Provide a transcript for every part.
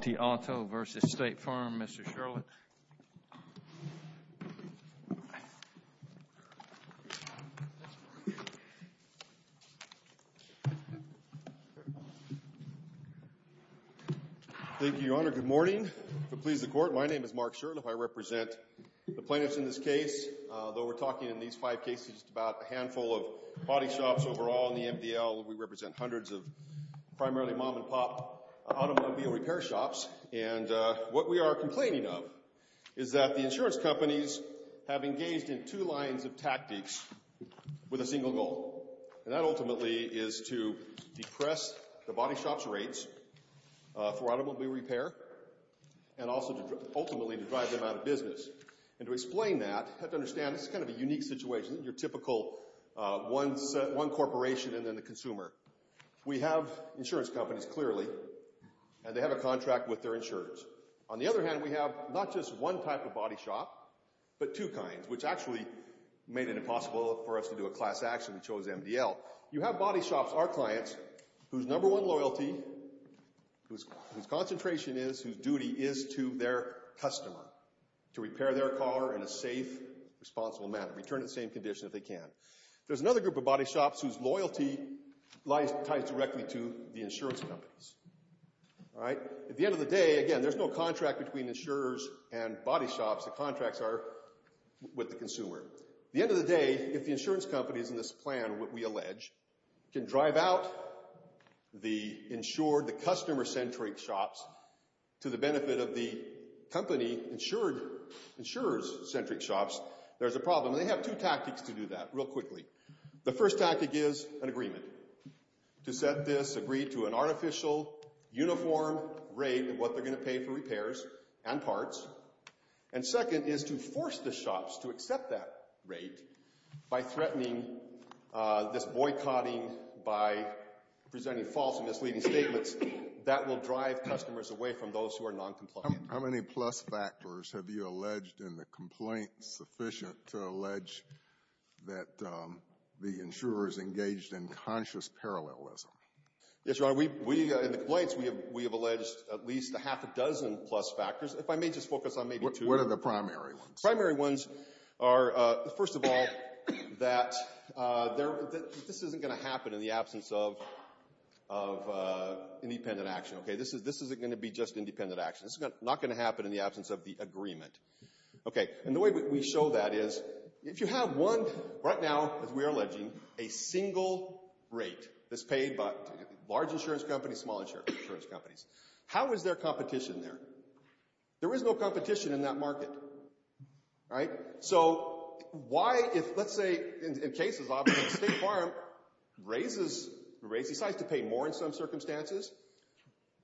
The auto versus State Farm, Mr. Sherlock. Thank you, Your Honor. Good morning. If it pleases the Court, my name is Mark Sherlock. I represent the plaintiffs in this case, though we're talking in these five cases just about a handful of body shops overall in the MDL. We represent hundreds of primarily mom-and-pop automobile repair shops. And what we are complaining of is that the insurance companies have engaged in two lines of tactics with a single goal. And that ultimately is to depress the body shop's rates for automobile repair and also to ultimately drive them out of business. And to explain that, you have to understand this is kind of a unique situation. You're typical one corporation and then the consumer. We have insurance companies, clearly, and they have a contract with their insurers. On the other hand, we have not just one type of body shop, but two kinds, which actually made it impossible for us to do a class action. We chose MDL. You have body shops, our clients, whose number one loyalty, whose concentration is, whose duty is to their customer. To repair their car in a safe, responsible manner. Return it to the same condition if they can. There's another group of body shops whose loyalty lies directly to the insurance companies. At the end of the day, again, there's no contract between insurers and body shops. The contracts are with the consumer. At the end of the day, if the insurance companies in this plan, what we allege, can drive out the insured, the customer-centric shops to the benefit of the company insurer's centric shops, there's a problem. They have two tactics to do that, real quickly. The first tactic is an agreement. To set this, agree to an artificial, uniform rate of what they're going to pay for repairs and parts. And second is to force the shops to accept that rate by threatening this boycotting by presenting false and misleading statements that will drive customers away from those who are non-compliant. How many plus factors have you alleged in the complaint sufficient to allege that the insurers engaged in conscious parallelism? Yes, Your Honor. We, in the complaints, we have alleged at least a half a dozen plus factors. If I may just focus on maybe two. What are the primary ones? Primary ones are, first of all, that this isn't going to happen in the absence of independent action. This isn't going to be just independent action. This is not going to happen in the absence of the agreement. And the way we show that is, if you have one, right now, as we are alleging, a single rate that's paid by large insurance companies, small insurance companies, how is there competition there? There is no competition in that market. Right? So, why if, let's say, in cases, obviously, State Farm raises, decides to pay more in some circumstances.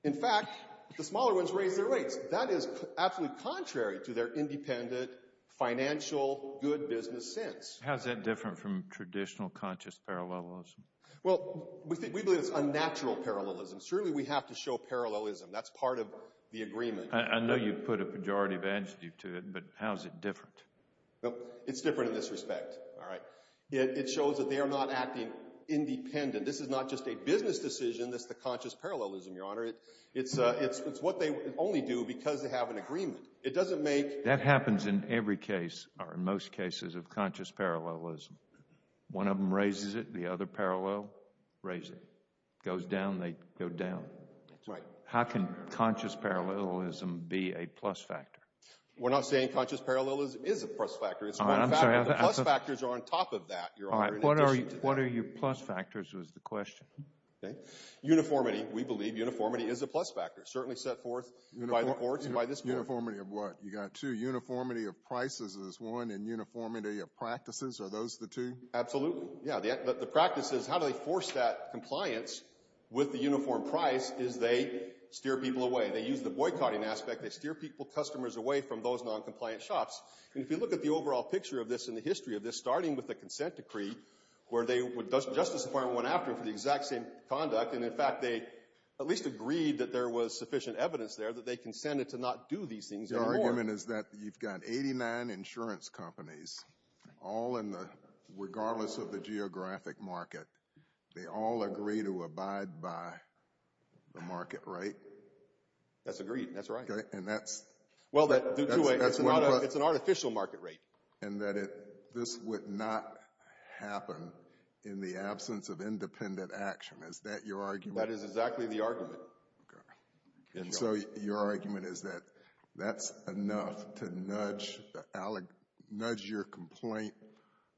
In fact, the smaller ones raise their rates. That is absolutely contrary to their independent, financial, good business sense. How is that different from traditional conscious parallelism? Well, we believe it's unnatural parallelism. Surely, we have to show parallelism. That's part of the agreement. I know you've put a majority of attitude to it, but how is it different? It's different in this respect. All right. It shows that they are not acting independent. This is not just a business decision. This is the conscious parallelism, Your Honor. It's what they only do because they have an agreement. It doesn't make... That happens in every case, or in most cases, of conscious parallelism. One of them raises it. The other parallel, raises it. Goes down, they go down. Right. How can conscious parallelism be a plus factor? We're not saying conscious parallelism is a plus factor. It's a plus factor. The plus factors are on top of that, Your Honor. All right. What are your plus factors, was the question. Okay. Uniformity, we believe uniformity is a plus factor. Certainly set forth by the courts and by this bill. Uniformity of what? You got two. Uniformity of prices is one, and uniformity of practices, are those the two? Absolutely. Yeah. The practice is how do they force that compliance with the uniform price is they steer people away. They use the boycotting aspect. They steer people, customers away from those noncompliant shops. And if you look at the overall picture of this and the history of this, starting with the consent decree, where Justice Department went after it for the exact same conduct. And, in fact, they at least agreed that there was sufficient evidence there that they consented to not do these things anymore. Your argument is that you've got 89 insurance companies, all in the, regardless of the geographic market. They all agree to abide by the market rate. That's agreed. That's right. And that's. Well, it's an artificial market rate. And that this would not happen in the absence of independent action. Is that your argument? That is exactly the argument. And so your argument is that that's enough to nudge your complaint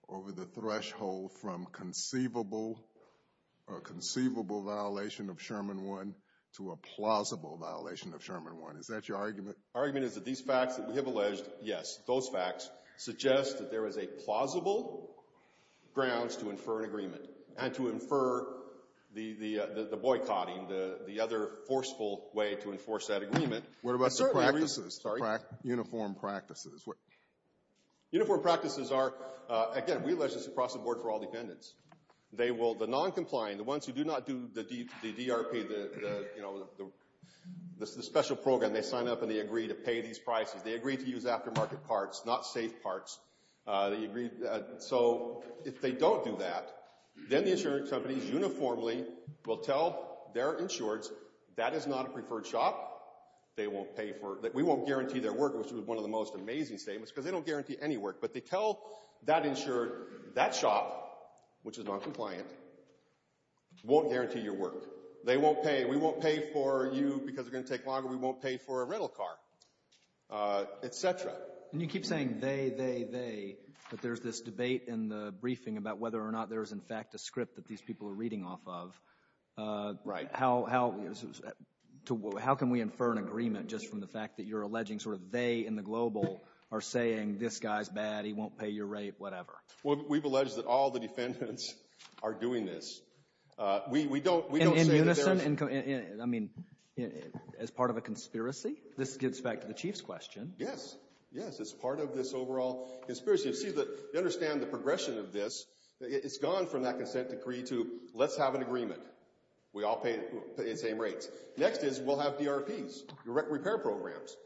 over the threshold from conceivable or conceivable violation of Sherman 1 to a plausible violation of Sherman 1. Is that your argument? Our argument is that these facts that we have alleged, yes, those facts, suggest that there is a plausible grounds to infer an agreement and to infer the boycotting, the other forceful way to enforce that agreement. What about the practices? Sorry? Uniform practices. Uniform practices are, again, we allege this across the board for all dependents. The noncompliant, the ones who do not do the DRP, the special program, they sign up and they agree to pay these prices. They agree to use aftermarket parts, not safe parts. They agree. So if they don't do that, then the insurance companies uniformly will tell their insureds that is not a preferred shop. They won't pay for it. We won't guarantee their work, which is one of the most amazing statements, because they don't guarantee any work. But they tell that insured that shop, which is noncompliant, won't guarantee your work. They won't pay. We won't pay for you because it's going to take longer. We won't pay for a rental car, et cetera. And you keep saying they, they, they, but there's this debate in the briefing about whether or not there is, in fact, a script that these people are reading off of. Right. How can we infer an agreement just from the fact that you're alleging sort of they in the global are saying this guy's bad, he won't pay your rate, whatever? Well, we've alleged that all the defendants are doing this. We don't say that there is. In unison? I mean, as part of a conspiracy? This gets back to the chief's question. Yes. Yes, as part of this overall conspiracy. You see, you understand the progression of this. It's gone from that consent decree to let's have an agreement. We all pay the same rates. Next is we'll have DRPs, direct repair programs,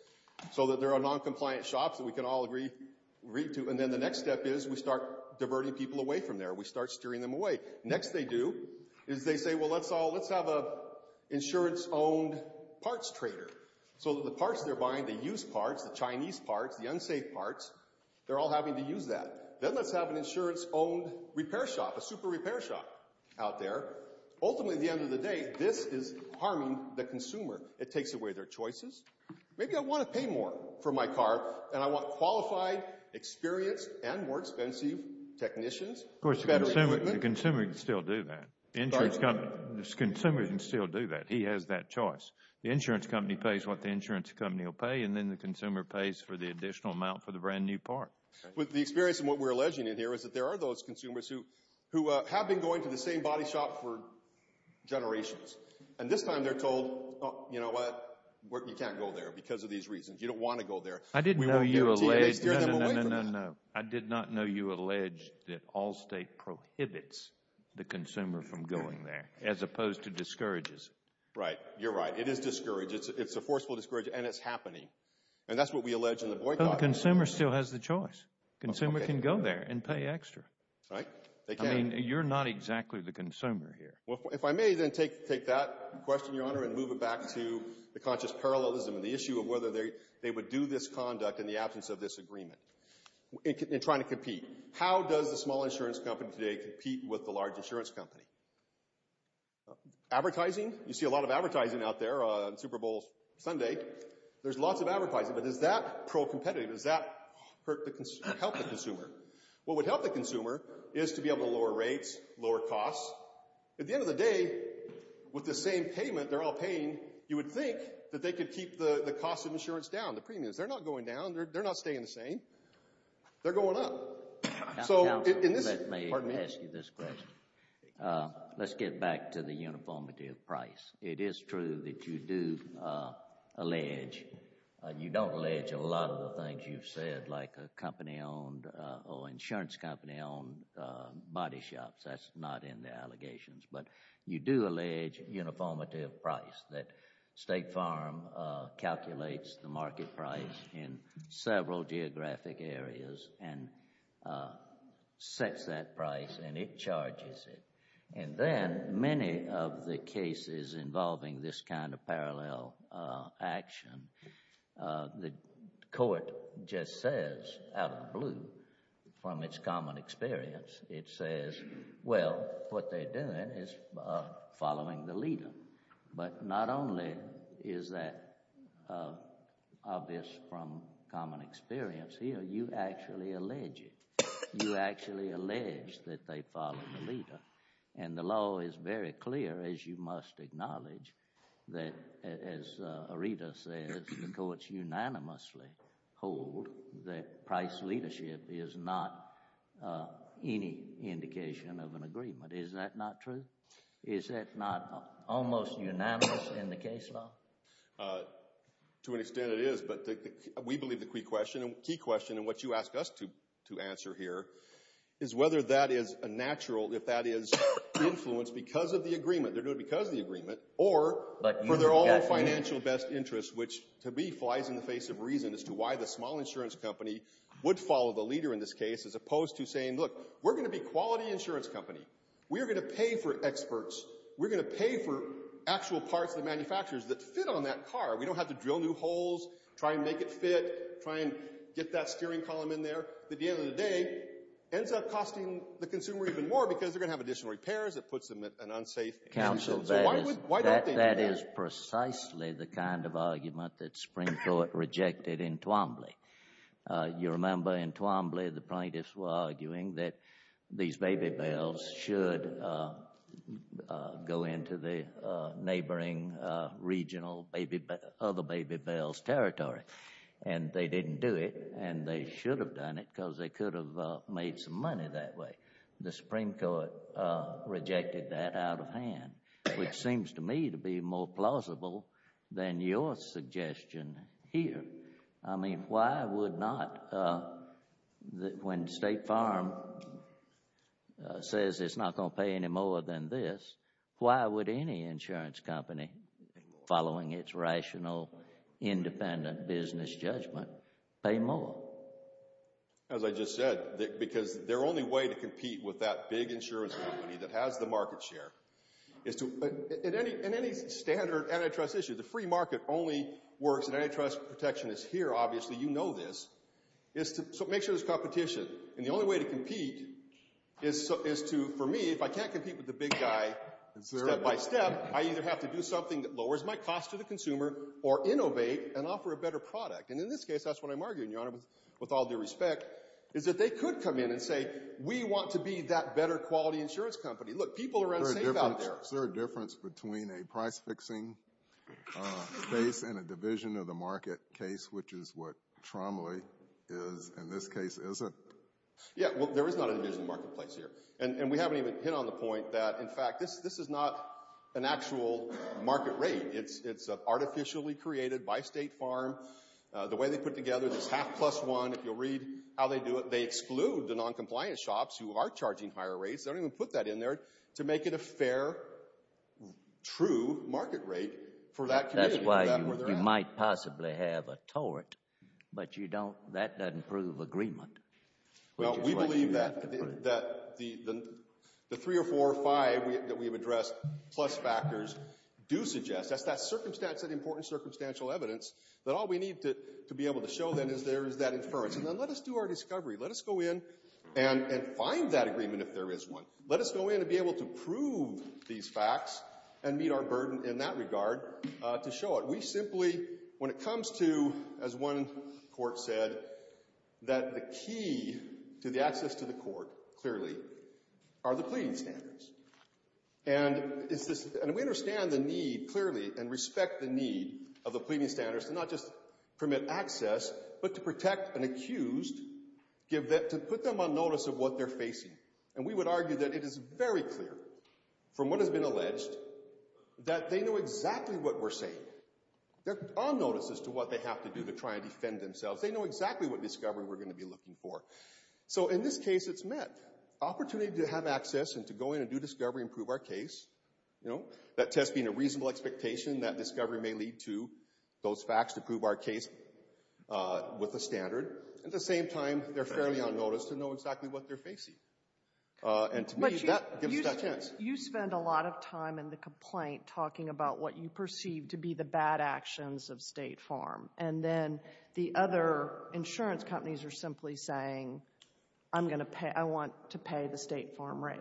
so that there are noncompliant shops that we can all agree to. And then the next step is we start diverting people away from there. We start steering them away. Next they do is they say, well, let's all, let's have a insurance-owned parts trader so that the parts they're buying, the used parts, the Chinese parts, the unsafe parts, they're all having to use that. Then let's have an insurance-owned repair shop, a super repair shop out there. Ultimately, at the end of the day, this is harming the consumer. It takes away their choices. Maybe I want to pay more for my car, and I want qualified, experienced, and more expensive technicians. Of course, the consumer can still do that. The consumer can still do that. He has that choice. The insurance company pays what the insurance company will pay, and then the consumer pays for the additional amount for the brand-new part. With the experience and what we're alleging in here is that there are those consumers who have been going to the same body shop for generations. And this time they're told, you know what, you can't go there because of these reasons. You don't want to go there. I did not know you alleged that Allstate prohibits the consumer from going there as opposed to discourages it. Right. You're right. It is discouraged. It's a forceful discourage, and it's happening. And that's what we allege in the boycott. But the consumer still has the choice. The consumer can go there and pay extra. Right. They can. I mean, you're not exactly the consumer here. Well, if I may then take that question, Your Honor, and move it back to the conscious parallelism and the issue of whether they would do this conduct in the absence of this agreement in trying to compete. How does the small insurance company today compete with the large insurance company? Advertising? You see a lot of advertising out there on Super Bowl Sunday. There's lots of advertising. But is that pro-competitive? Does that help the consumer? What would help the consumer is to be able to lower rates, lower costs. At the end of the day, with the same payment they're all paying, you would think that they could keep the cost of insurance down, the premiums. They're not going down. They're not staying the same. They're going up. So in this— Counsel, let me ask you this question. Let's get back to the uniformity of price. It is true that you do allege—you don't allege a lot of the things you've said, like a company owned or insurance company owned body shops. That's not in the allegations. But you do allege uniformity of price, that State Farm calculates the market price in several geographic areas and sets that price, and it charges it. And then many of the cases involving this kind of parallel action, the court just says out of the blue, from its common experience, it says, well, what they're doing is following the leader. But not only is that obvious from common experience here, you actually allege it. You actually allege that they follow the leader. And the law is very clear, as you must acknowledge, that as Areta says, the courts unanimously hold that price leadership is not any indication of an agreement. Is that not true? Is that not almost unanimous in the case law? To an extent it is, but we believe the key question, and what you ask us to answer here, is whether that is a natural, if that is, influence because of the agreement. They're doing it because of the agreement, or for their own financial best interest, which to me flies in the face of reason as to why the small insurance company would follow the leader in this case, as opposed to saying, look, we're going to be a quality insurance company. We're going to pay for experts. We're going to pay for actual parts of the manufacturers that fit on that car. We don't have to drill new holes, try and make it fit, try and get that steering column in there. At the end of the day, it ends up costing the consumer even more because they're going to have additional repairs. It puts them at an unsafe angle. So why don't they do that? That is precisely the kind of argument that Springthorpe rejected in Twombly. You remember in Twombly the plaintiffs were arguing that these baby bells should go into the neighboring regional other baby bells territory. And they didn't do it, and they should have done it because they could have made some money that way. The Supreme Court rejected that out of hand, which seems to me to be more plausible than your suggestion here. I mean, why would not, when State Farm says it's not going to pay any more than this, why would any insurance company, following its rational, independent business judgment, pay more? As I just said, because their only way to compete with that big insurance company that has the market share, in any standard antitrust issue, the free market only works if antitrust protection is here, obviously. You know this. So make sure there's competition. And the only way to compete is to, for me, if I can't compete with the big guy step by step, I either have to do something that lowers my cost to the consumer or innovate and offer a better product. And in this case, that's what I'm arguing, Your Honor, with all due respect, is that they could come in and say, we want to be that better quality insurance company. Look, people are unsafe out there. Is there a difference between a price-fixing base and a division of the market case, which is what Tromley is in this case, is it? Yeah. Well, there is not a division of the marketplace here. And we haven't even hit on the point that, in fact, this is not an actual market rate. It's artificially created by State Farm. The way they put together this half plus one, if you'll read how they do it, they exclude the noncompliant shops who are charging higher rates. They don't even put that in there to make it a fair, true market rate for that community. That's why you might possibly have a tort, but that doesn't prove agreement. Well, we believe that the three or four or five that we've addressed plus factors do suggest, that's that important circumstantial evidence that all we need to be able to show then is there is that inference. And then let us do our discovery. Let us go in and find that agreement if there is one. Let us go in and be able to prove these facts and meet our burden in that regard to show it. We simply, when it comes to, as one court said, that the key to the access to the court, clearly, are the pleading standards. And we understand the need, clearly, and respect the need of the pleading standards to not just permit access, but to protect an accused, to put them on notice of what they're facing. And we would argue that it is very clear, from what has been alleged, that they know exactly what we're saying. They're on notice as to what they have to do to try and defend themselves. They know exactly what discovery we're going to be looking for. So in this case, it's met. Opportunity to have access and to go in and do discovery and prove our case. That test being a reasonable expectation, that discovery may lead to those facts to prove our case with a standard. At the same time, they're fairly on notice to know exactly what they're facing. And to me, that gives us that chance. You spend a lot of time in the complaint talking about what you perceive to be the bad actions of State Farm. And then the other insurance companies are simply saying, I want to pay the State Farm rate.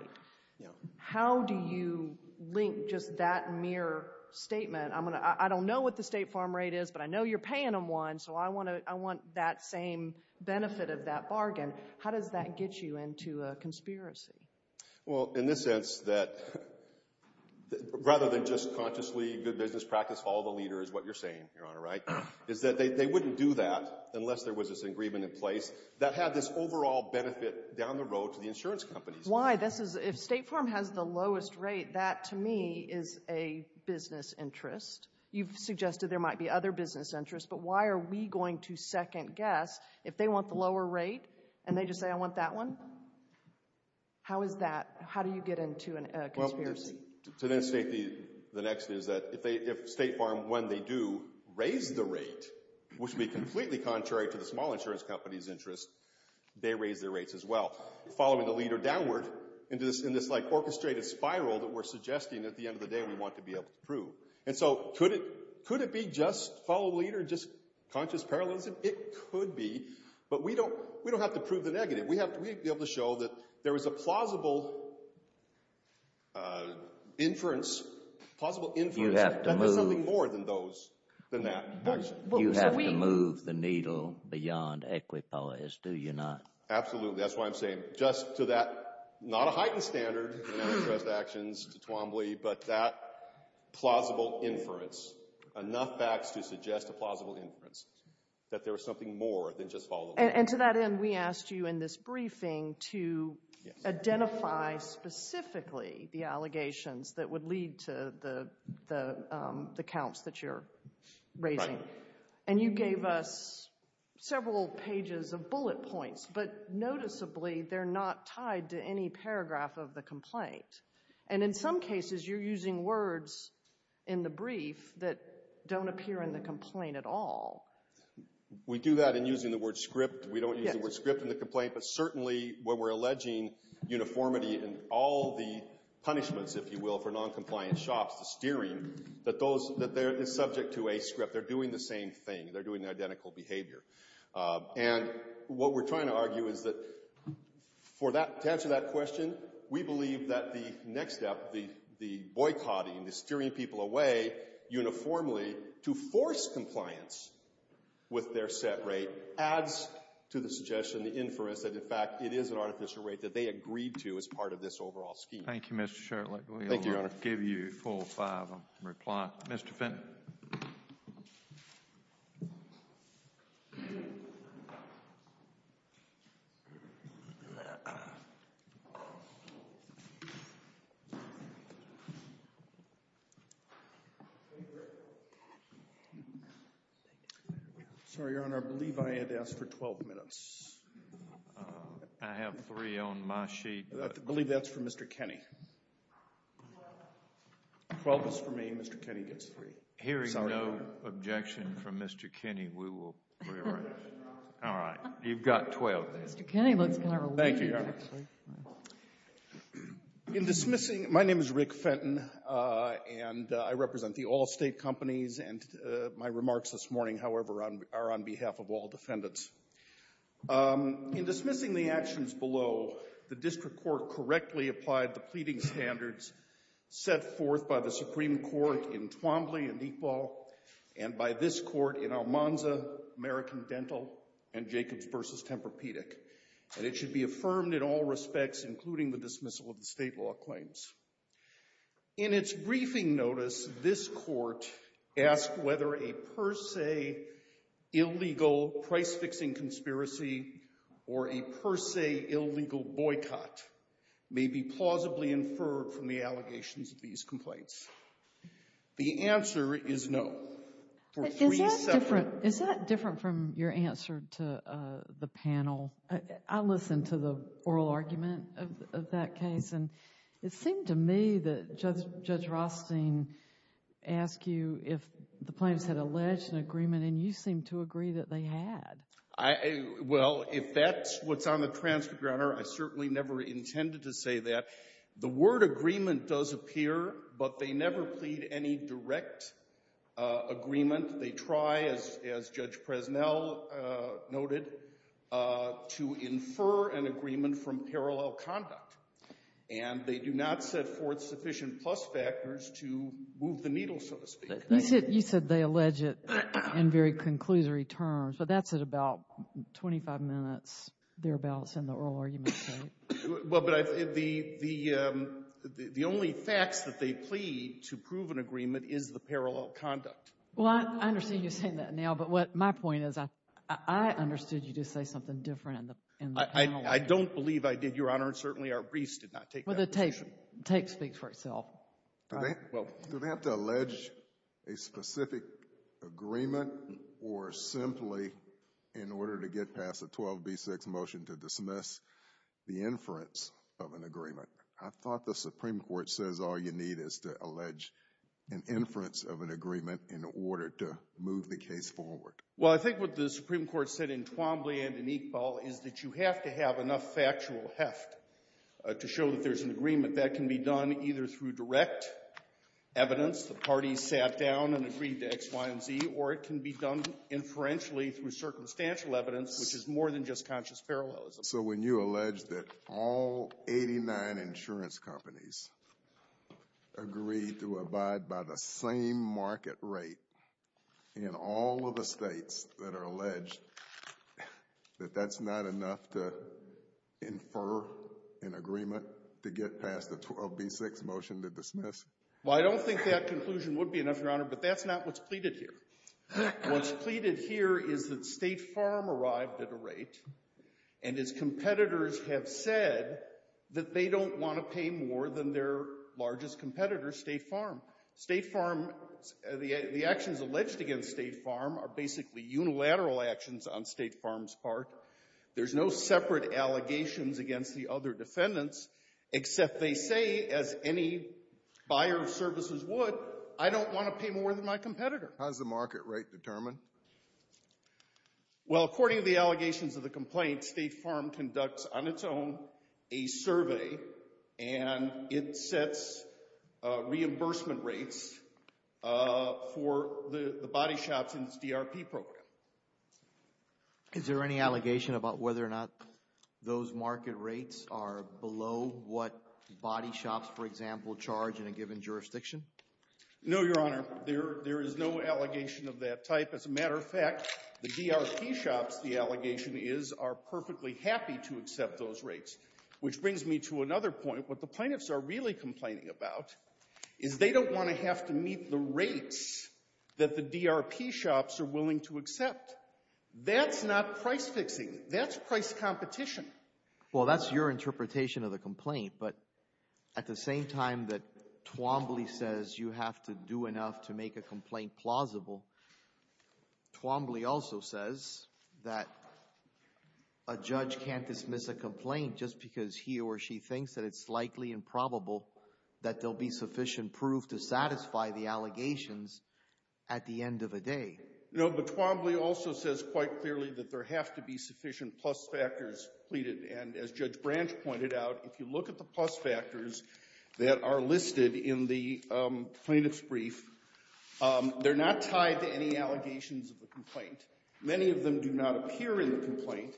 How do you link just that mere statement? I don't know what the State Farm rate is, but I know you're paying them one, so I want that same benefit of that bargain. How does that get you into a conspiracy? Well, in the sense that rather than just consciously good business practice, follow the leader is what you're saying, Your Honor, right? Is that they wouldn't do that unless there was this agreement in place that had this overall benefit down the road to the insurance companies. Why? If State Farm has the lowest rate, that to me is a business interest. You've suggested there might be other business interests, but why are we going to second guess if they want the lower rate and they just say I want that one? How is that? How do you get into a conspiracy? To then state the next is that if State Farm, when they do raise the rate, which would be completely contrary to the small insurance company's interest, they raise their rates as well, following the leader downward in this orchestrated spiral that we're suggesting at the end of the day we want to be able to prove. And so could it be just follow the leader, just conscious parallelism? It could be, but we don't have to prove the negative. We have to be able to show that there is a plausible inference. You have to move the needle beyond equipoise, do you not? Absolutely. That's why I'm saying just to that, not a heightened standard in antitrust actions to Twombly, but that plausible inference. Enough facts to suggest a plausible inference, that there was something more than just follow the leader. And to that end, we asked you in this briefing to identify specifically the allegations that would lead to the counts that you're raising. And you gave us several pages of bullet points, but noticeably they're not tied to any paragraph of the complaint. And in some cases, you're using words in the brief that don't appear in the complaint at all. We do that in using the word script. We don't use the word script in the complaint, but certainly when we're alleging uniformity in all the punishments, if you will, for noncompliant shops, the steering, that they're subject to a script. They're doing the same thing. They're doing the identical behavior. And what we're trying to argue is that for that, to answer that question, we believe that the next step, the boycotting, the steering people away uniformly to force compliance with their set rate adds to the suggestion, the inference, that in fact it is an artificial rate that they agreed to as part of this overall scheme. Thank you, Mr. Shurtleff. Thank you, Your Honor. I give you 4 or 5 in reply. Mr. Fenton. Sorry, Your Honor. I believe I had asked for 12 minutes. I have three on my sheet. I believe that's for Mr. Kenney. 12 is for me. Mr. Kenney gets three. Hearing no objection from Mr. Kenney, we will rearrange. All right. You've got 12. Mr. Kenney looks kind of relieved, actually. Thank you, Your Honor. My name is Rick Fenton, and I represent the Allstate Companies, and my remarks this morning, however, are on behalf of all defendants. In dismissing the actions below, the district court correctly applied the pleading standards set forth by the Supreme Court in Twombly and Equal, and by this court in Almanza, American Dental, and Jacobs v. Tempur-Pedic. And it should be affirmed in all respects, including the dismissal of the state law claims. In its briefing notice, this court asked whether a per se illegal price-fixing conspiracy or a per se illegal boycott may be plausibly inferred from the allegations of these complaints. The answer is no. Is that different from your answer to the panel? I listened to the oral argument of that case, and it seemed to me that Judge Rothstein asked you if the plaintiffs had alleged an agreement, and you seemed to agree that they had. Well, if that's what's on the transcript, Your Honor, I certainly never intended to say that. The word agreement does appear, but they never plead any direct agreement. They try, as Judge Presnell noted, to infer an agreement from parallel conduct, and they do not set forth sufficient plus factors to move the needle, so to speak. You said they allege it in very conclusory terms, but that's at about 25 minutes thereabouts in the oral argument, right? Well, but the only facts that they plead to prove an agreement is the parallel conduct. Well, I understand you saying that now, but my point is I understood you to say something different in the panel. I don't believe I did, Your Honor, and certainly our briefs did not take that position. Well, the tape speaks for itself. Do they have to allege a specific agreement or simply in order to get past a 12b6 motion to dismiss the inference of an agreement? I thought the Supreme Court says all you need is to allege an inference of an agreement in order to move the case forward. Well, I think what the Supreme Court said in Twombly and in Iqbal is that you have to have enough factual heft to show that there's an agreement. That can be done either through direct evidence, the parties sat down and agreed to X, Y, and Z, or it can be done inferentially through circumstantial evidence, which is more than just conscious parallelism. So when you allege that all 89 insurance companies agree to abide by the same market rate in all of the states that are alleged, that that's not enough to infer an agreement to get past the 12b6 motion to dismiss? Well, I don't think that conclusion would be enough, Your Honor, but that's not what's pleaded here. What's pleaded here is that State Farm arrived at a rate, and its competitors have said that they don't want to pay more than their largest competitor, State Farm. State Farm, the actions alleged against State Farm are basically unilateral actions on State Farm's part. There's no separate allegations against the other defendants, except they say, as any buyer of services would, I don't want to pay more than my competitor. How is the market rate determined? Well, according to the allegations of the complaint, State Farm conducts on its own a survey, and it sets reimbursement rates for the body shops in its DRP program. Is there any allegation about whether or not those market rates are below what body shops, for example, charge in a given jurisdiction? No, Your Honor. There is no allegation of that type. As a matter of fact, the DRP shops, the allegation is, are perfectly happy to accept those rates. Which brings me to another point. What the plaintiffs are really complaining about is they don't want to have to meet the rates that the DRP shops are willing to accept. That's not price fixing. That's price competition. Well, that's your interpretation of the complaint. But at the same time that Twombly says you have to do enough to make a complaint plausible, Twombly also says that a judge can't dismiss a complaint just because he or she thinks that it's likely and probable that there will be sufficient proof to satisfy the allegations at the end of the day. No, but Twombly also says quite clearly that there have to be sufficient plus factors pleaded. And as Judge Branch pointed out, if you look at the plus factors that are listed in the plaintiff's brief, they're not tied to any allegations of the complaint. Many of them do not appear in the complaint.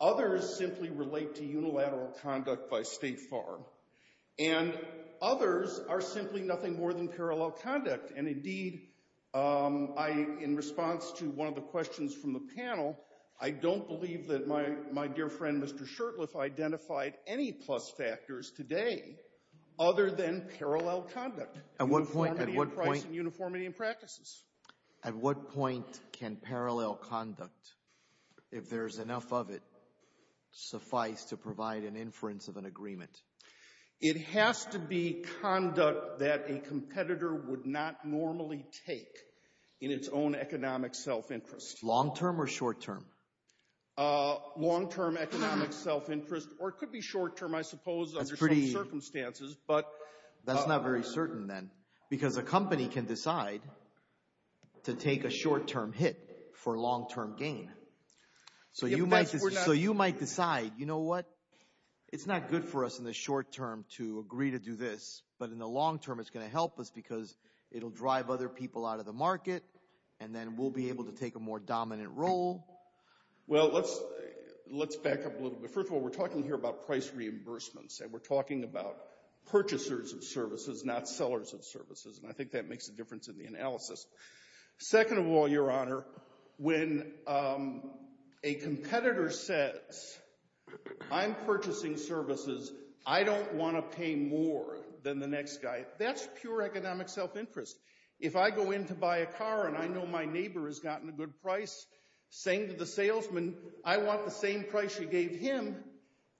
Others simply relate to unilateral conduct by State Farm. And others are simply nothing more than parallel conduct. And, indeed, I, in response to one of the questions from the panel, I don't believe that my dear friend, Mr. Shurtleff, identified any plus factors today other than parallel conduct. Uniformity in price and uniformity in practices. At what point can parallel conduct, if there's enough of it, suffice to provide an inference of an agreement? It has to be conduct that a competitor would not normally take in its own economic self-interest. Long-term or short-term? Long-term economic self-interest, or it could be short-term, I suppose, under some circumstances. That's not very certain, then, because a company can decide to take a short-term hit for long-term gain. So you might decide, you know what, it's not good for us in the short-term to agree to do this, but in the long-term it's going to help us because it will drive other people out of the market, and then we'll be able to take a more dominant role. Well, let's back up a little bit. First of all, we're talking here about price reimbursements, and we're talking about purchasers of services, not sellers of services, and I think that makes a difference in the analysis. Second of all, Your Honor, when a competitor says, I'm purchasing services, I don't want to pay more than the next guy, that's pure economic self-interest. If I go in to buy a car and I know my neighbor has gotten a good price, saying to the salesman, I want the same price you gave him,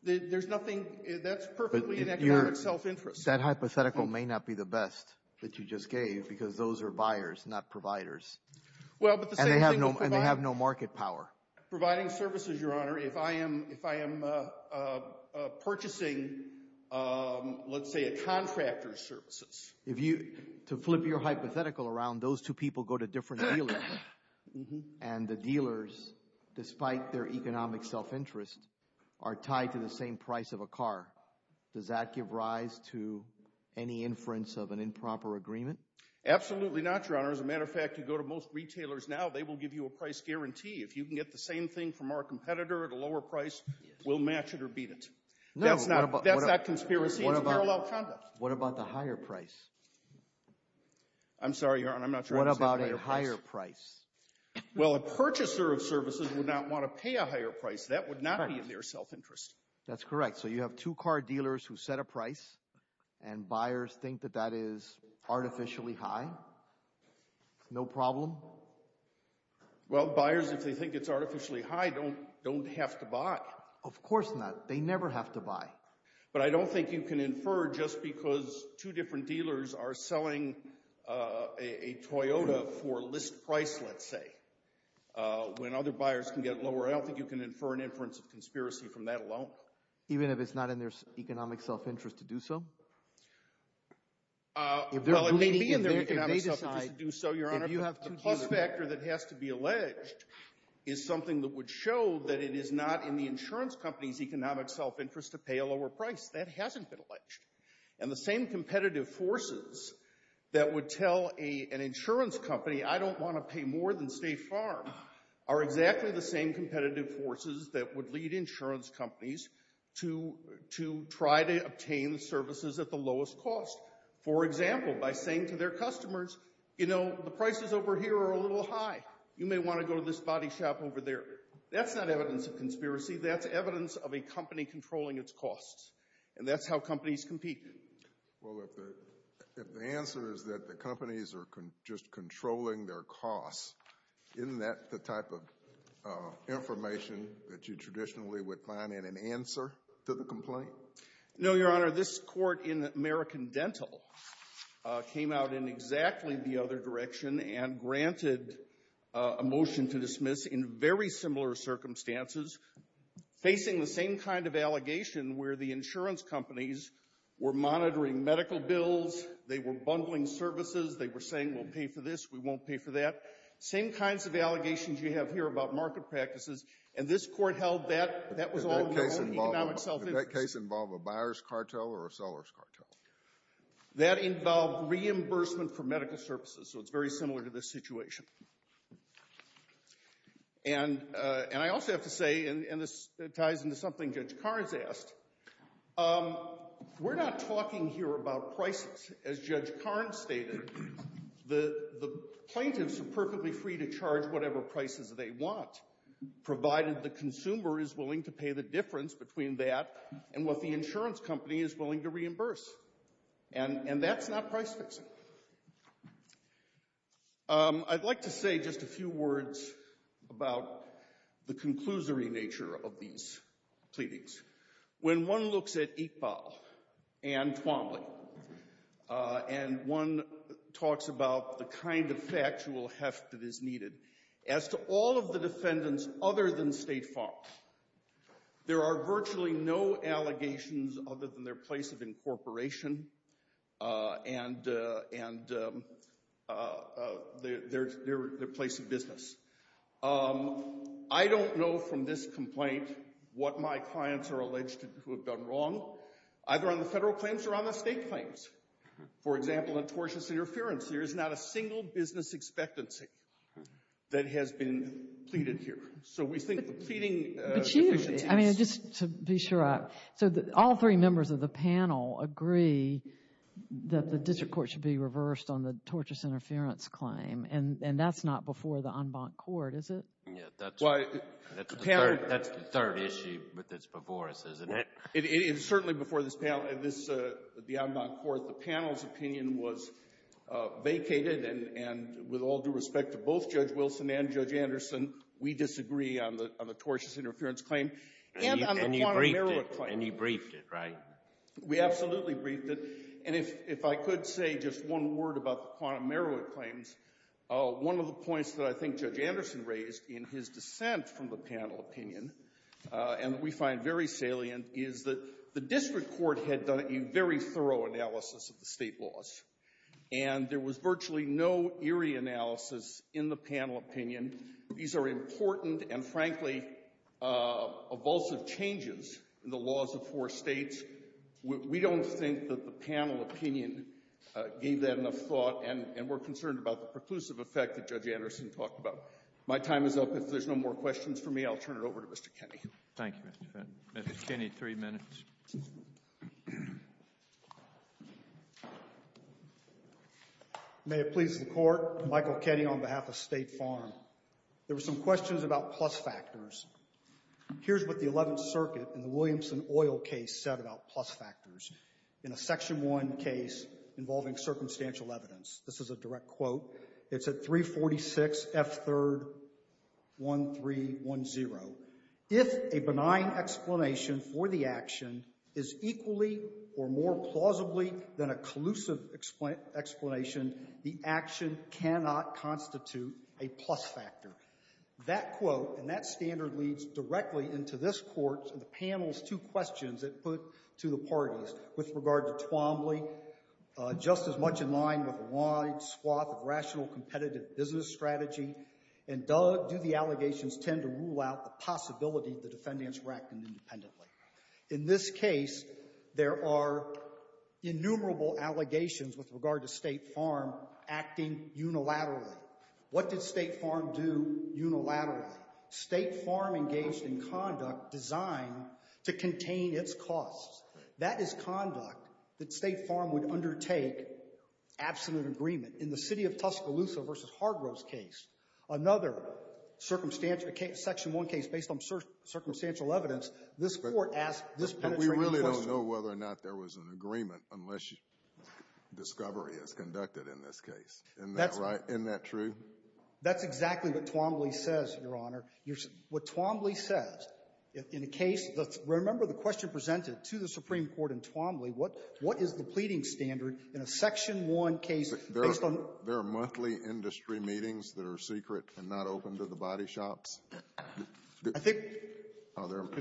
there's nothing – that's perfectly an economic self-interest. That hypothetical may not be the best that you just gave because those are buyers, not providers. And they have no market power. Providing services, Your Honor, if I am purchasing, let's say, a contractor's services. To flip your hypothetical around, those two people go to different dealers, and the dealers, despite their economic self-interest, are tied to the same price of a car. Does that give rise to any inference of an improper agreement? Absolutely not, Your Honor. As a matter of fact, you go to most retailers now, they will give you a price guarantee. If you can get the same thing from our competitor at a lower price, we'll match it or beat it. That's not conspiracy. It's parallel conduct. What about the higher price? I'm sorry, Your Honor, I'm not sure I understand the higher price. What about a higher price? Well, a purchaser of services would not want to pay a higher price. That would not be in their self-interest. That's correct. So you have two car dealers who set a price, and buyers think that that is artificially high. No problem? Well, buyers, if they think it's artificially high, don't have to buy. Of course not. They never have to buy. But I don't think you can infer just because two different dealers are selling a Toyota for a list price, let's say, when other buyers can get lower. I don't think you can infer an inference of conspiracy from that alone. Even if it's not in their economic self-interest to do so? Well, it may be in their economic self-interest to do so, Your Honor, but the plus factor that has to be alleged is something that would show that it is not in the insurance company's economic self-interest to pay a lower price. That hasn't been alleged. And the same competitive forces that would tell an insurance company, I don't want to pay more than State Farm, are exactly the same competitive forces that would lead insurance companies to try to obtain services at the lowest cost. For example, by saying to their customers, you know, the prices over here are a little high. You may want to go to this body shop over there. That's not evidence of conspiracy. That's evidence of a company controlling its costs. And that's how companies compete. Well, if the answer is that the companies are just controlling their costs, isn't that the type of information that you traditionally would find in an answer to the complaint? No, Your Honor. This Court in American Dental came out in exactly the other direction and granted a motion to dismiss in very similar circumstances, facing the same kind of allegation where the insurance companies were monitoring medical bills, they were bundling services, they were saying we'll pay for this, we won't pay for that, same kinds of allegations you have here about market practices. And this Court held that that was all in the economic self-interest. Did that case involve a buyer's cartel or a seller's cartel? That involved reimbursement for medical services, so it's very similar to this situation. And I also have to say, and this ties into something Judge Karnes asked, we're not talking here about prices. As Judge Karnes stated, the plaintiffs are perfectly free to charge whatever prices they want, provided the consumer is willing to pay the difference between that and what the insurance company is willing to reimburse. And that's not price-fixing. I'd like to say just a few words about the conclusory nature of these pleadings. When one looks at Iqbal and Twombly, and one talks about the kind of factual heft that is needed, as to all of the defendants other than State Farm, there are virtually no allegations other than their place of incorporation and their place of business. I don't know from this complaint what my clients are alleged to have done wrong, either on the federal claims or on the state claims. For example, in tortious interference, there is not a single business expectancy that has been pleaded here. So we think the pleading efficiency is... But Chief, I mean, just to be sure, all three members of the panel agree that the district court should be reversed on the tortious interference claim, and that's not before the en banc court, is it? Yeah, that's the third issue that's before us, isn't it? It is certainly before the en banc court. The panel's opinion was vacated, and with all due respect to both Judge Wilson and Judge Anderson, we disagree on the tortious interference claim. And you briefed it, right? We absolutely briefed it. And if I could say just one word about the quantum merit claims, one of the points that I think Judge Anderson raised in his dissent from the panel opinion, and we find very salient, is that the district court had done a very thorough analysis of the state laws, and there was virtually no eerie analysis in the panel opinion. These are important and, frankly, evulsive changes in the laws of four states. We don't think that the panel opinion gave that enough thought, and we're concerned about the preclusive effect that Judge Anderson talked about. My time is up. If there's no more questions for me, I'll turn it over to Mr. Kenney. Thank you, Mr. Fitton. Mr. Kenney, three minutes. May it please the Court, Michael Kenney on behalf of State Farm. There were some questions about plus factors. Here's what the Eleventh Circuit in the Williamson Oil case said about plus factors in a Section 1 case involving circumstantial evidence. This is a direct quote. It's at 346 F. 3rd 1310. If a benign explanation for the action is equally or more plausibly than a collusive explanation, the action cannot constitute a plus factor. That quote and that standard leads directly into this Court and the panel's two questions In this case, there are innumerable allegations with regard to State Farm acting unilaterally. What did State Farm do unilaterally? State Farm engaged in conduct designed to contain its costs. That is conduct that State Farm would undertake absolute agreement. In the City of Tuscaloosa v. Hargrove's case, another circumstantial case, Section 1 case based on circumstantial evidence, this Court asked this penetrating question. But we really don't know whether or not there was an agreement unless discovery is conducted in this case. Isn't that right? Isn't that true? That's exactly what Twombly says, Your Honor. What Twombly says in a case that's – remember the question presented to the Supreme Court in Twombly, what is the pleading standard in a Section 1 case based on – There are monthly industry meetings that are secret and not open to the body shops. I think – That's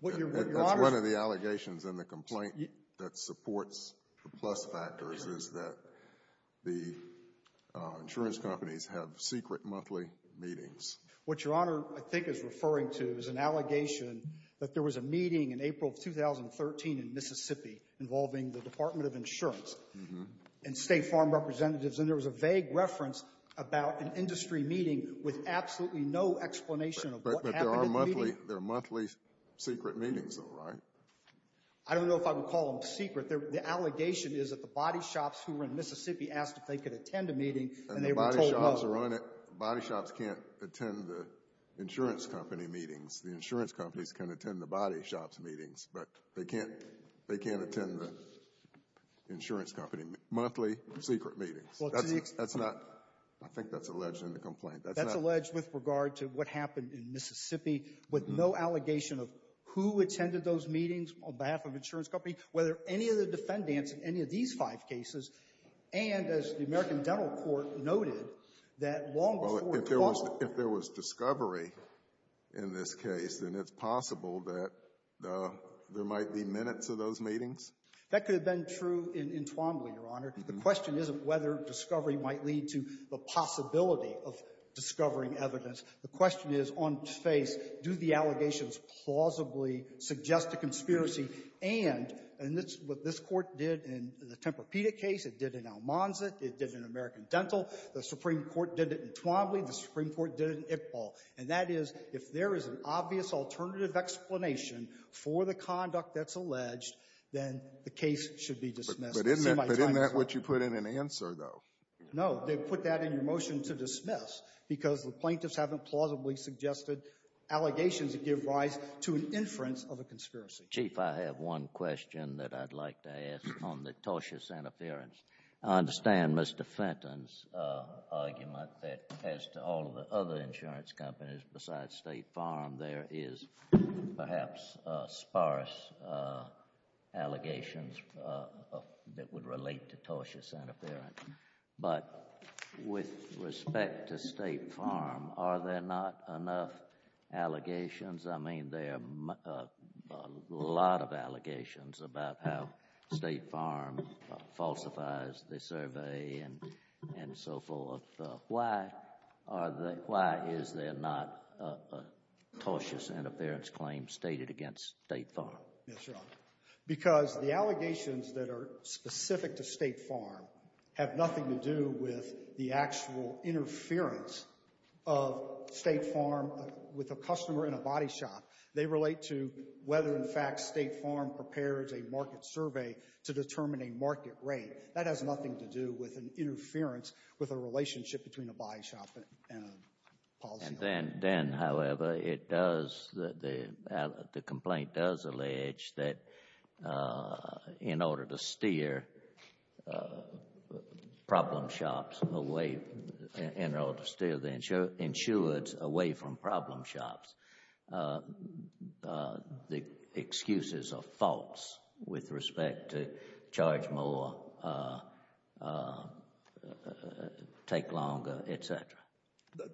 one of the allegations in the complaint that supports the plus factors is that the insurance companies have secret monthly meetings. What Your Honor I think is referring to is an allegation that there was a meeting in April of 2013 in Mississippi involving the Department of Insurance and State Farm representatives, and there was a vague reference about an industry meeting with absolutely no explanation of what happened at the meeting. But there are monthly secret meetings, though, right? I don't know if I would call them secret. The allegation is that the body shops who were in Mississippi asked if they could attend a meeting, and they were told no. The laws are on it. Body shops can't attend the insurance company meetings. The insurance companies can attend the body shops' meetings, but they can't – they can't attend the insurance company monthly secret meetings. That's not – I think that's alleged in the complaint. That's not – That's alleged with regard to what happened in Mississippi with no allegation of who attended those meetings on behalf of the insurance company, whether any of the defendants in any of these five cases, and as the American Dental Court noted, that long before Twombly – Well, if there was – if there was discovery in this case, then it's possible that there might be minutes of those meetings? That could have been true in Twombly, Your Honor. The question isn't whether discovery might lead to the possibility of discovering evidence. The question is, on face, do the allegations plausibly suggest a conspiracy and – and that's what this Court did in the Tempur-Pedic case. It did in Almanza. It did in American Dental. The Supreme Court did it in Twombly. The Supreme Court did it in Iqbal. And that is, if there is an obvious alternative explanation for the conduct that's alleged, then the case should be dismissed. But isn't that – but isn't that what you put in an answer, though? No. They put that in your motion to dismiss because the plaintiffs haven't plausibly suggested allegations that give rise to an inference of a conspiracy. Mr. Chief, I have one question that I'd like to ask on the tortuous interference. I understand Mr. Fenton's argument that as to all the other insurance companies besides State Farm, there is perhaps sparse allegations that would relate to tortuous interference. But with respect to State Farm, are there not enough allegations? I mean, there are a lot of allegations about how State Farm falsifies the survey and so forth. Why is there not a tortuous interference claim stated against State Farm? Yes, Your Honor. Because the allegations that are specific to State Farm have nothing to do with the actual interference of State Farm with a customer in a body shop. They relate to whether, in fact, State Farm prepares a market survey to determine a market rate. That has nothing to do with an interference with a relationship between a body shop and a policy. And then, however, it does – the complaint does allege that in order to steer problem shops away – in order to steer the insureds away from problem shops, the excuses are false with respect to charge more, take longer, et cetera.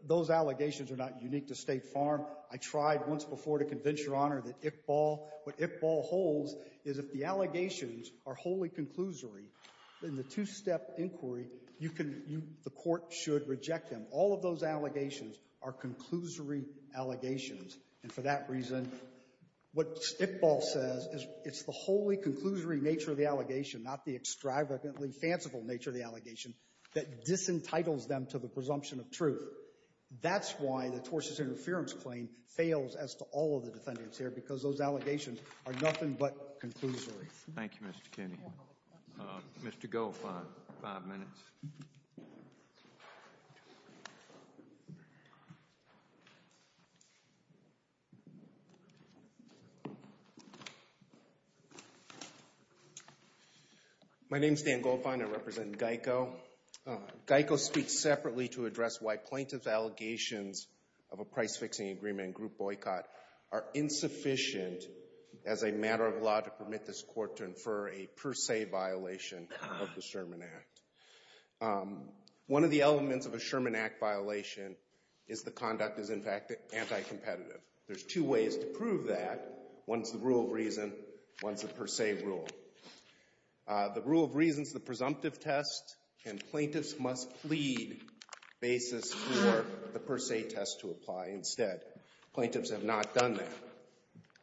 Those allegations are not unique to State Farm. I tried once before to convince Your Honor that Iqbal – what Iqbal holds is if the two-step inquiry, you can – the court should reject them. All of those allegations are conclusory allegations. And for that reason, what Iqbal says is it's the wholly conclusory nature of the allegation, not the extravagantly fanciful nature of the allegation, that disentitles them to the presumption of truth. That's why the tortuous interference claim fails as to all of the defendants here, because those allegations are nothing but conclusory. Thank you, Mr. Kinney. Mr. Goldfein, five minutes. My name is Dan Goldfein. I represent GEICO. GEICO speaks separately to address why plaintiff's allegations of a price-fixing agreement and group boycott are insufficient as a matter of law to permit this court to infer a per se violation of the Sherman Act. One of the elements of a Sherman Act violation is the conduct is, in fact, anti-competitive. There's two ways to prove that. One's the rule of reason. One's the per se rule. The rule of reason is the presumptive test, and plaintiffs must plead basis for the per se test to apply instead. Plaintiffs have not done that.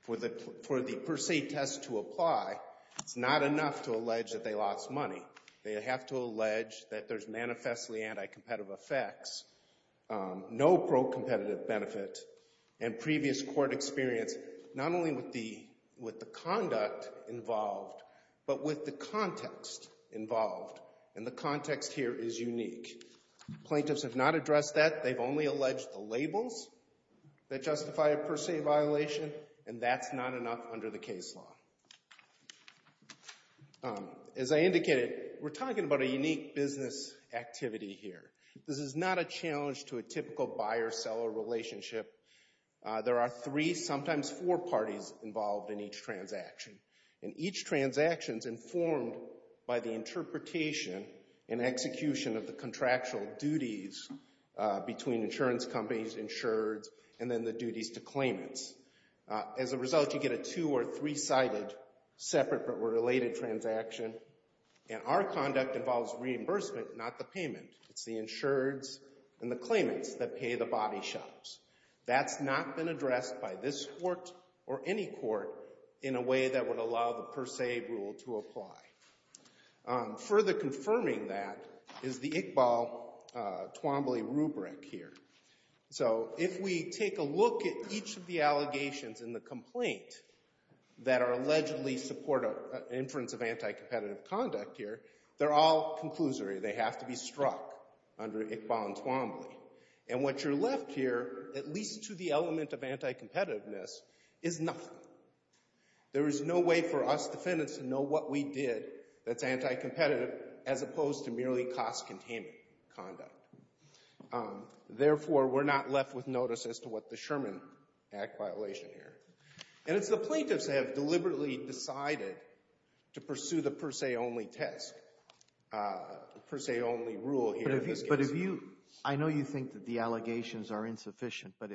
For the per se test to apply, it's not enough to allege that they lost money. They have to allege that there's manifestly anti-competitive effects, no pro-competitive benefit. And previous court experience, not only with the conduct involved, but with the context involved. And the context here is unique. Plaintiffs have not addressed that. They've only alleged the labels that justify a per se violation, and that's not enough under the case law. As I indicated, we're talking about a unique business activity here. This is not a challenge to a typical buyer-seller relationship. There are three, sometimes four, parties involved in each transaction. And each transaction's informed by the interpretation and execution of the between insurance companies, insureds, and then the duties to claimants. As a result, you get a two- or three-sided separate but related transaction. And our conduct involves reimbursement, not the payment. It's the insureds and the claimants that pay the body shops. That's not been addressed by this court or any court in a way that would allow the per se rule to apply. Further confirming that is the Iqbal-Twombly rubric here. So if we take a look at each of the allegations in the complaint that are allegedly support an inference of anti-competitive conduct here, they're all conclusory. They have to be struck under Iqbal and Twombly. And what you're left here, at least to the element of anti-competitiveness, is nothing. There is no way for us defendants to know what we did that's anti-competitive as opposed to merely cost containment conduct. Therefore, we're not left with notice as to what the Sherman Act violation here. And it's the plaintiffs that have deliberately decided to pursue the per se only test, per se only rule here in this case. But if you – I know you think that the allegations are insufficient. But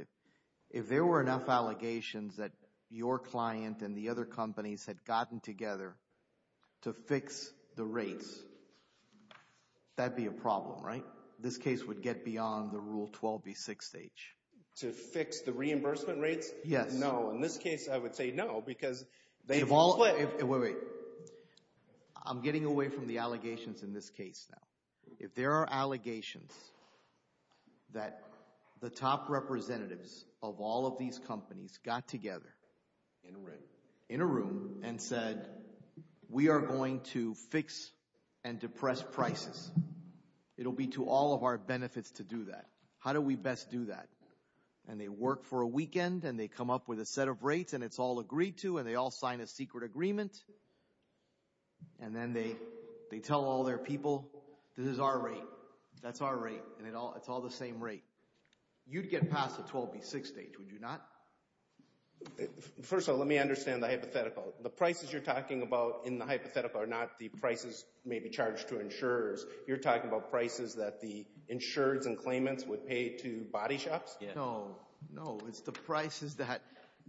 if there were enough allegations that your client and the other companies had gotten together to fix the rates, that would be a problem, right? This case would get beyond the Rule 12b6 stage. To fix the reimbursement rates? Yes. No. In this case, I would say no because they've split. Wait, wait. I'm getting away from the allegations in this case now. If there are allegations that the top representatives of all of these companies got together in a room and said, we are going to fix and depress prices, it will be to all of our benefits to do that. How do we best do that? And they work for a weekend and they come up with a set of rates and it's all agreed to and they all sign a secret agreement and then they tell all their people, this is our rate. That's our rate and it's all the same rate. You'd get past the 12b6 stage, would you not? First of all, let me understand the hypothetical. The prices you're talking about in the hypothetical are not the prices maybe charged to insurers. You're talking about prices that the insurers and claimants would pay to body shops? No. No, it's the prices that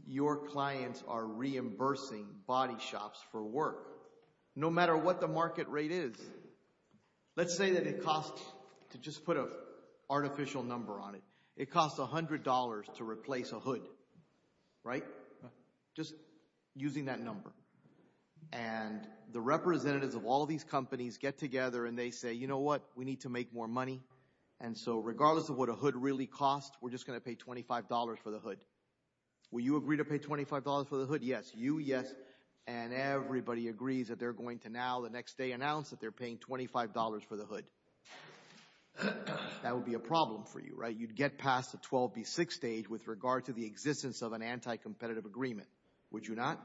your clients are reimbursing body shops for work. No matter what the market rate is. Let's say that it costs, to just put an artificial number on it, it costs $100 to replace a hood, right? Just using that number. And the representatives of all of these companies get together and they say, you know what, we need to make more money. And so regardless of what a hood really costs, we're just going to pay $25 for the hood. Will you agree to pay $25 for the hood? Yes. You, yes. And everybody agrees that they're going to now, the next day, announce that they're paying $25 for the hood. That would be a problem for you, right? You'd get past the 12b6 stage with regard to the existence of an anti-competitive agreement. Would you not?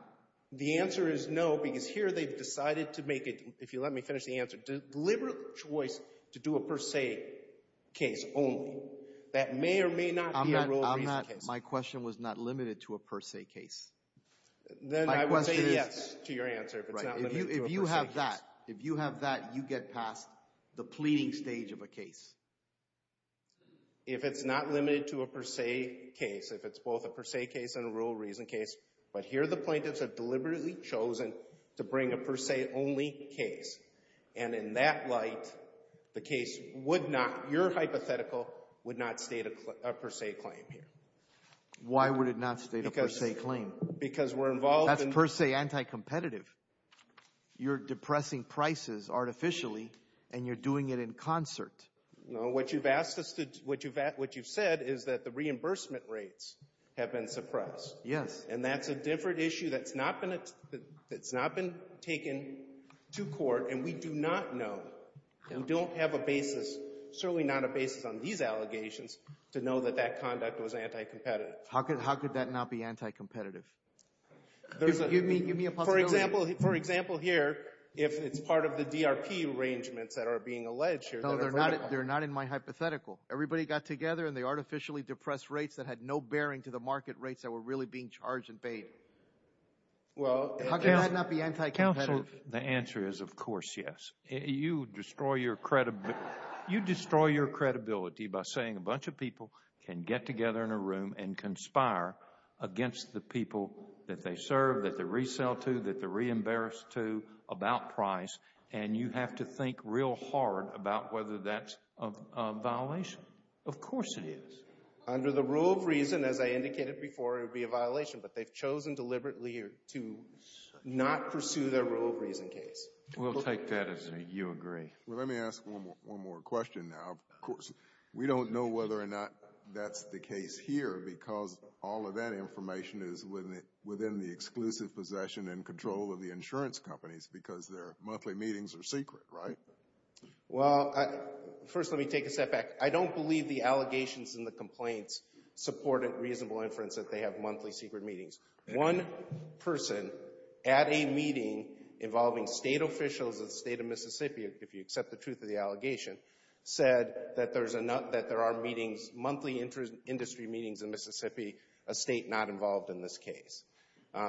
The answer is no because here they've decided to make it, if you let me finish the answer, a deliberate choice to do a per se case only. That may or may not be a rule of reason case. My question was not limited to a per se case. Then I would say yes to your answer if it's not limited to a per se case. If you have that, if you have that, you get past the pleading stage of a case. If it's not limited to a per se case, if it's both a per se case and a rule of reason case, but here the plaintiffs have deliberately chosen to bring a per se only case. And in that light, the case would not, your hypothetical, would not state a per se claim here. Why would it not state a per se claim? Because we're involved in That's per se anti-competitive. You're depressing prices artificially and you're doing it in concert. No, what you've asked us to, what you've said is that the reimbursement rates have been suppressed. Yes. And that's a different issue that's not been taken to court, and we do not know. We don't have a basis, certainly not a basis on these allegations, to know that that conduct was anti-competitive. How could that not be anti-competitive? Give me a possibility. For example, here, if it's part of the DRP arrangements that are being alleged here. No, they're not in my hypothetical. Everybody got together and they artificially depressed rates that had no bearing to the market rates that were really being charged and paid. How could that not be anti-competitive? Counsel, the answer is of course yes. You destroy your credibility by saying a bunch of people can get together in a room and conspire against the people that they serve, that they resell to, that they're re-embarrassed to about price, and you have to think real hard about whether that's a violation. Of course it is. Under the rule of reason, as I indicated before, it would be a violation, but they've chosen deliberately to not pursue their rule of reason case. We'll take that as a you agree. Well, let me ask one more question now. Of course, we don't know whether or not that's the case here, because all of that information is within the exclusive possession and control of the insurance companies because their monthly meetings are secret, right? Well, first let me take a step back. I don't believe the allegations and the complaints support a reasonable inference that they have monthly secret meetings. One person at a meeting involving state officials of the state of Mississippi, if you accept the truth of the allegation, said that there are monthly industry meetings in Mississippi, a state not involved in this case.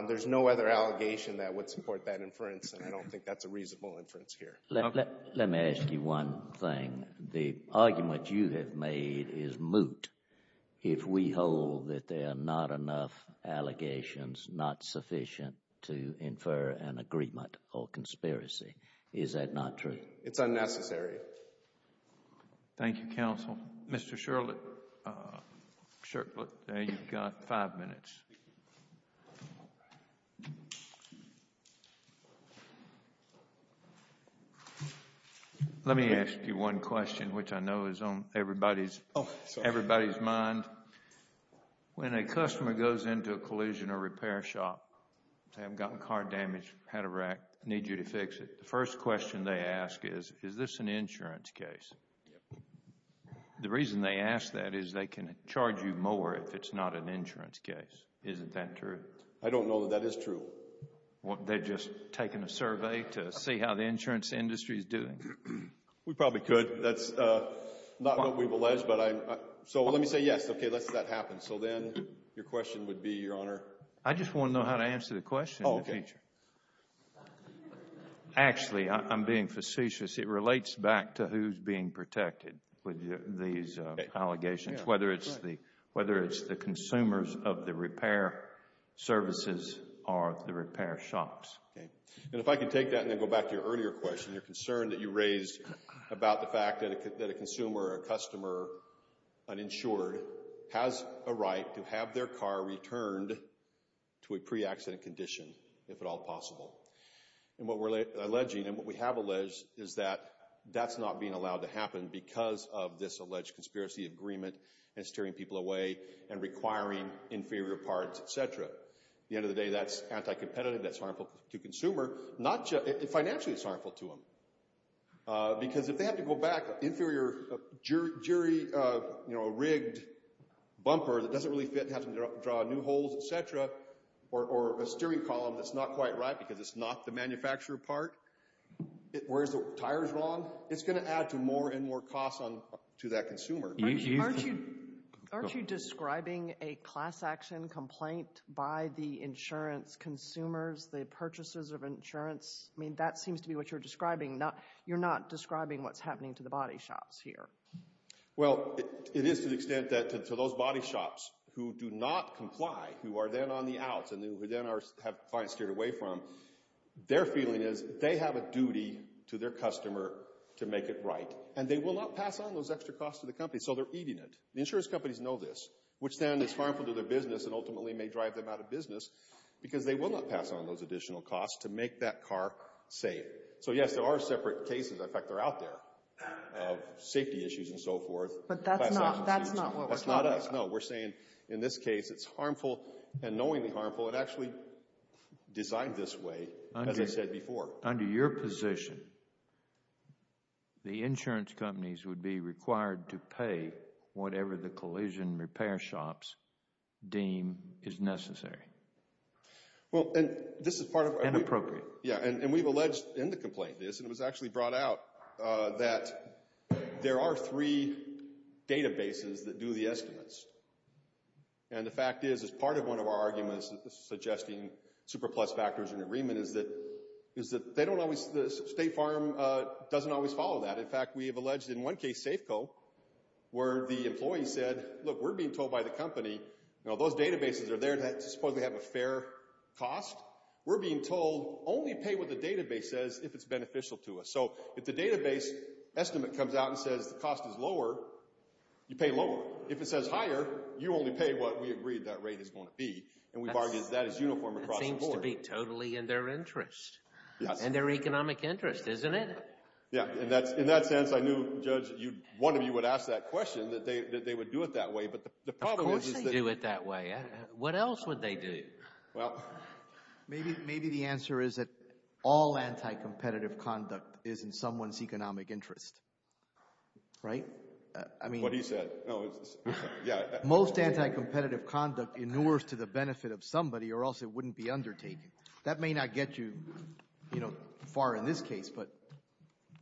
There's no other allegation that would support that inference, and I don't think that's a reasonable inference here. Let me ask you one thing. The argument you have made is moot if we hold that there are not enough allegations, not sufficient to infer an agreement or conspiracy. Is that not true? It's unnecessary. Thank you, counsel. Mr. Shirkwood, you've got five minutes. Let me ask you one question, which I know is on everybody's mind. When a customer goes into a collision or repair shop, they have gotten car damage, had a wreck, need you to fix it, the first question they ask is, is this an insurance case? The reason they ask that is they can charge you more if it's not an insurance case. Isn't that true? I don't know that that is true. They've just taken a survey to see how the insurance industry is doing. We probably could. That's not what we've alleged, but I'm—so let me say yes. Okay, let's say that happens. So then your question would be, Your Honor— I just want to know how to answer the question in the future. Actually, I'm being facetious. It relates back to who's being protected with these allegations, whether it's the consumers of the repair services or the repair shops. And if I could take that and then go back to your earlier question, your concern that you raised about the fact that a consumer or a customer, uninsured, has a right to have their car returned to a pre-accident condition, if at all possible. And what we're alleging and what we have alleged is that that's not being allowed to happen because of this alleged conspiracy agreement and steering people away and requiring inferior parts, et cetera. At the end of the day, that's anti-competitive. That's harmful to the consumer. Financially, it's harmful to them. Because if they have to go back, inferior, jerry-rigged bumper that doesn't really fit, have to draw new holes, et cetera, or a steering column that's not quite right because it's not the manufacturer part, where the tire's wrong, it's going to add to more and more costs to that consumer. Aren't you describing a class action complaint by the insurance consumers, the purchasers of insurance? I mean, that seems to be what you're describing. You're not describing what's happening to the body shops here. Well, it is to the extent that to those body shops who do not comply, who are then on the outs and who then have clients steered away from, their feeling is they have a duty to their customer to make it right, and they will not pass on those extra costs to the company, so they're eating it. The insurance companies know this, which then is harmful to their business and ultimately may drive them out of business because they will not pass on those additional costs to make that car safe. So, yes, there are separate cases. In fact, they're out there of safety issues and so forth. But that's not what we're talking about. No, we're saying in this case it's harmful and knowingly harmful. It actually designed this way, as I said before. Under your position, the insurance companies would be required to pay whatever the collision repair shops deem is necessary. And appropriate. Yeah, and we've alleged in the complaint this, and it was actually brought out, that there are three databases that do the estimates. And the fact is, as part of one of our arguments suggesting super plus factors in agreement, is that State Farm doesn't always follow that. In fact, we have alleged in one case, Safeco, where the employee said, look, we're being told by the company, you know, those databases are there that supposedly have a fair cost. We're being told only pay what the database says if it's beneficial to us. So if the database estimate comes out and says the cost is lower, you pay lower. If it says higher, you only pay what we agree that rate is going to be. And we bargained that as uniform across the board. That seems to be totally in their interest. Yes. And their economic interest, isn't it? Yeah. In that sense, I knew, Judge, one of you would ask that question, that they would do it that way. Of course they do it that way. What else would they do? Well, maybe the answer is that all anti-competitive conduct is in someone's economic interest. Right? What he said. Most anti-competitive conduct inures to the benefit of somebody or else it wouldn't be undertaken. That may not get you, you know, far in this case, but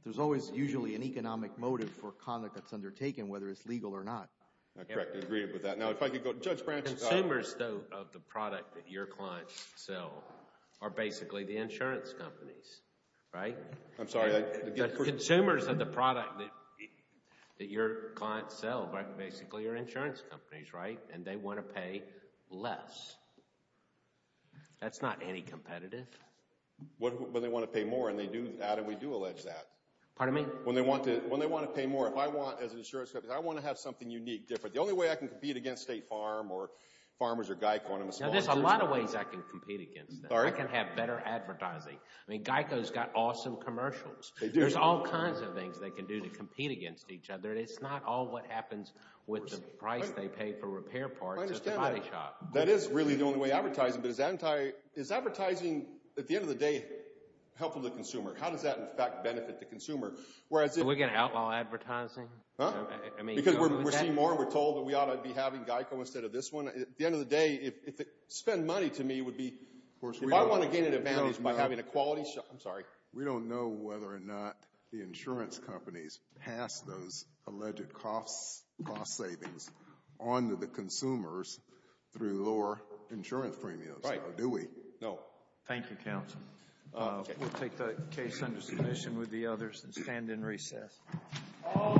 there's always usually an economic motive for conduct that's undertaken, whether it's legal or not. Correct. I agree with that. Now, if I could go to Judge Branch. Consumers, though, of the product that your clients sell are basically the insurance companies, right? I'm sorry. Consumers of the product that your clients sell basically are insurance companies, right? And they want to pay less. That's not anti-competitive. But they want to pay more, and we do allege that. Pardon me? When they want to pay more, if I want, as an insurance company, I want to have something unique, different. The only way I can compete against State Farm or Farmers or Geico and I'm a small business. Now, there's a lot of ways I can compete against them. I can have better advertising. I mean, Geico's got awesome commercials. They do. There's all kinds of things they can do to compete against each other, and it's not all what happens with the price they pay for repair parts at the body shop. That is really the only way advertising. But is advertising, at the end of the day, helpful to the consumer? How does that, in fact, benefit the consumer? Are we going to outlaw advertising? Huh? Because we're seeing more and we're told that we ought to be having Geico instead of this one? At the end of the day, if they spend money to me, it would be... If I want to gain an advantage by having a quality... I'm sorry? We don't know whether or not the insurance companies pass those alleged cost savings on to the consumers through lower insurance premiums. Right. Do we? No. Thank you, Counsel. We'll take that case under submission with the others and stand in recess. All rise.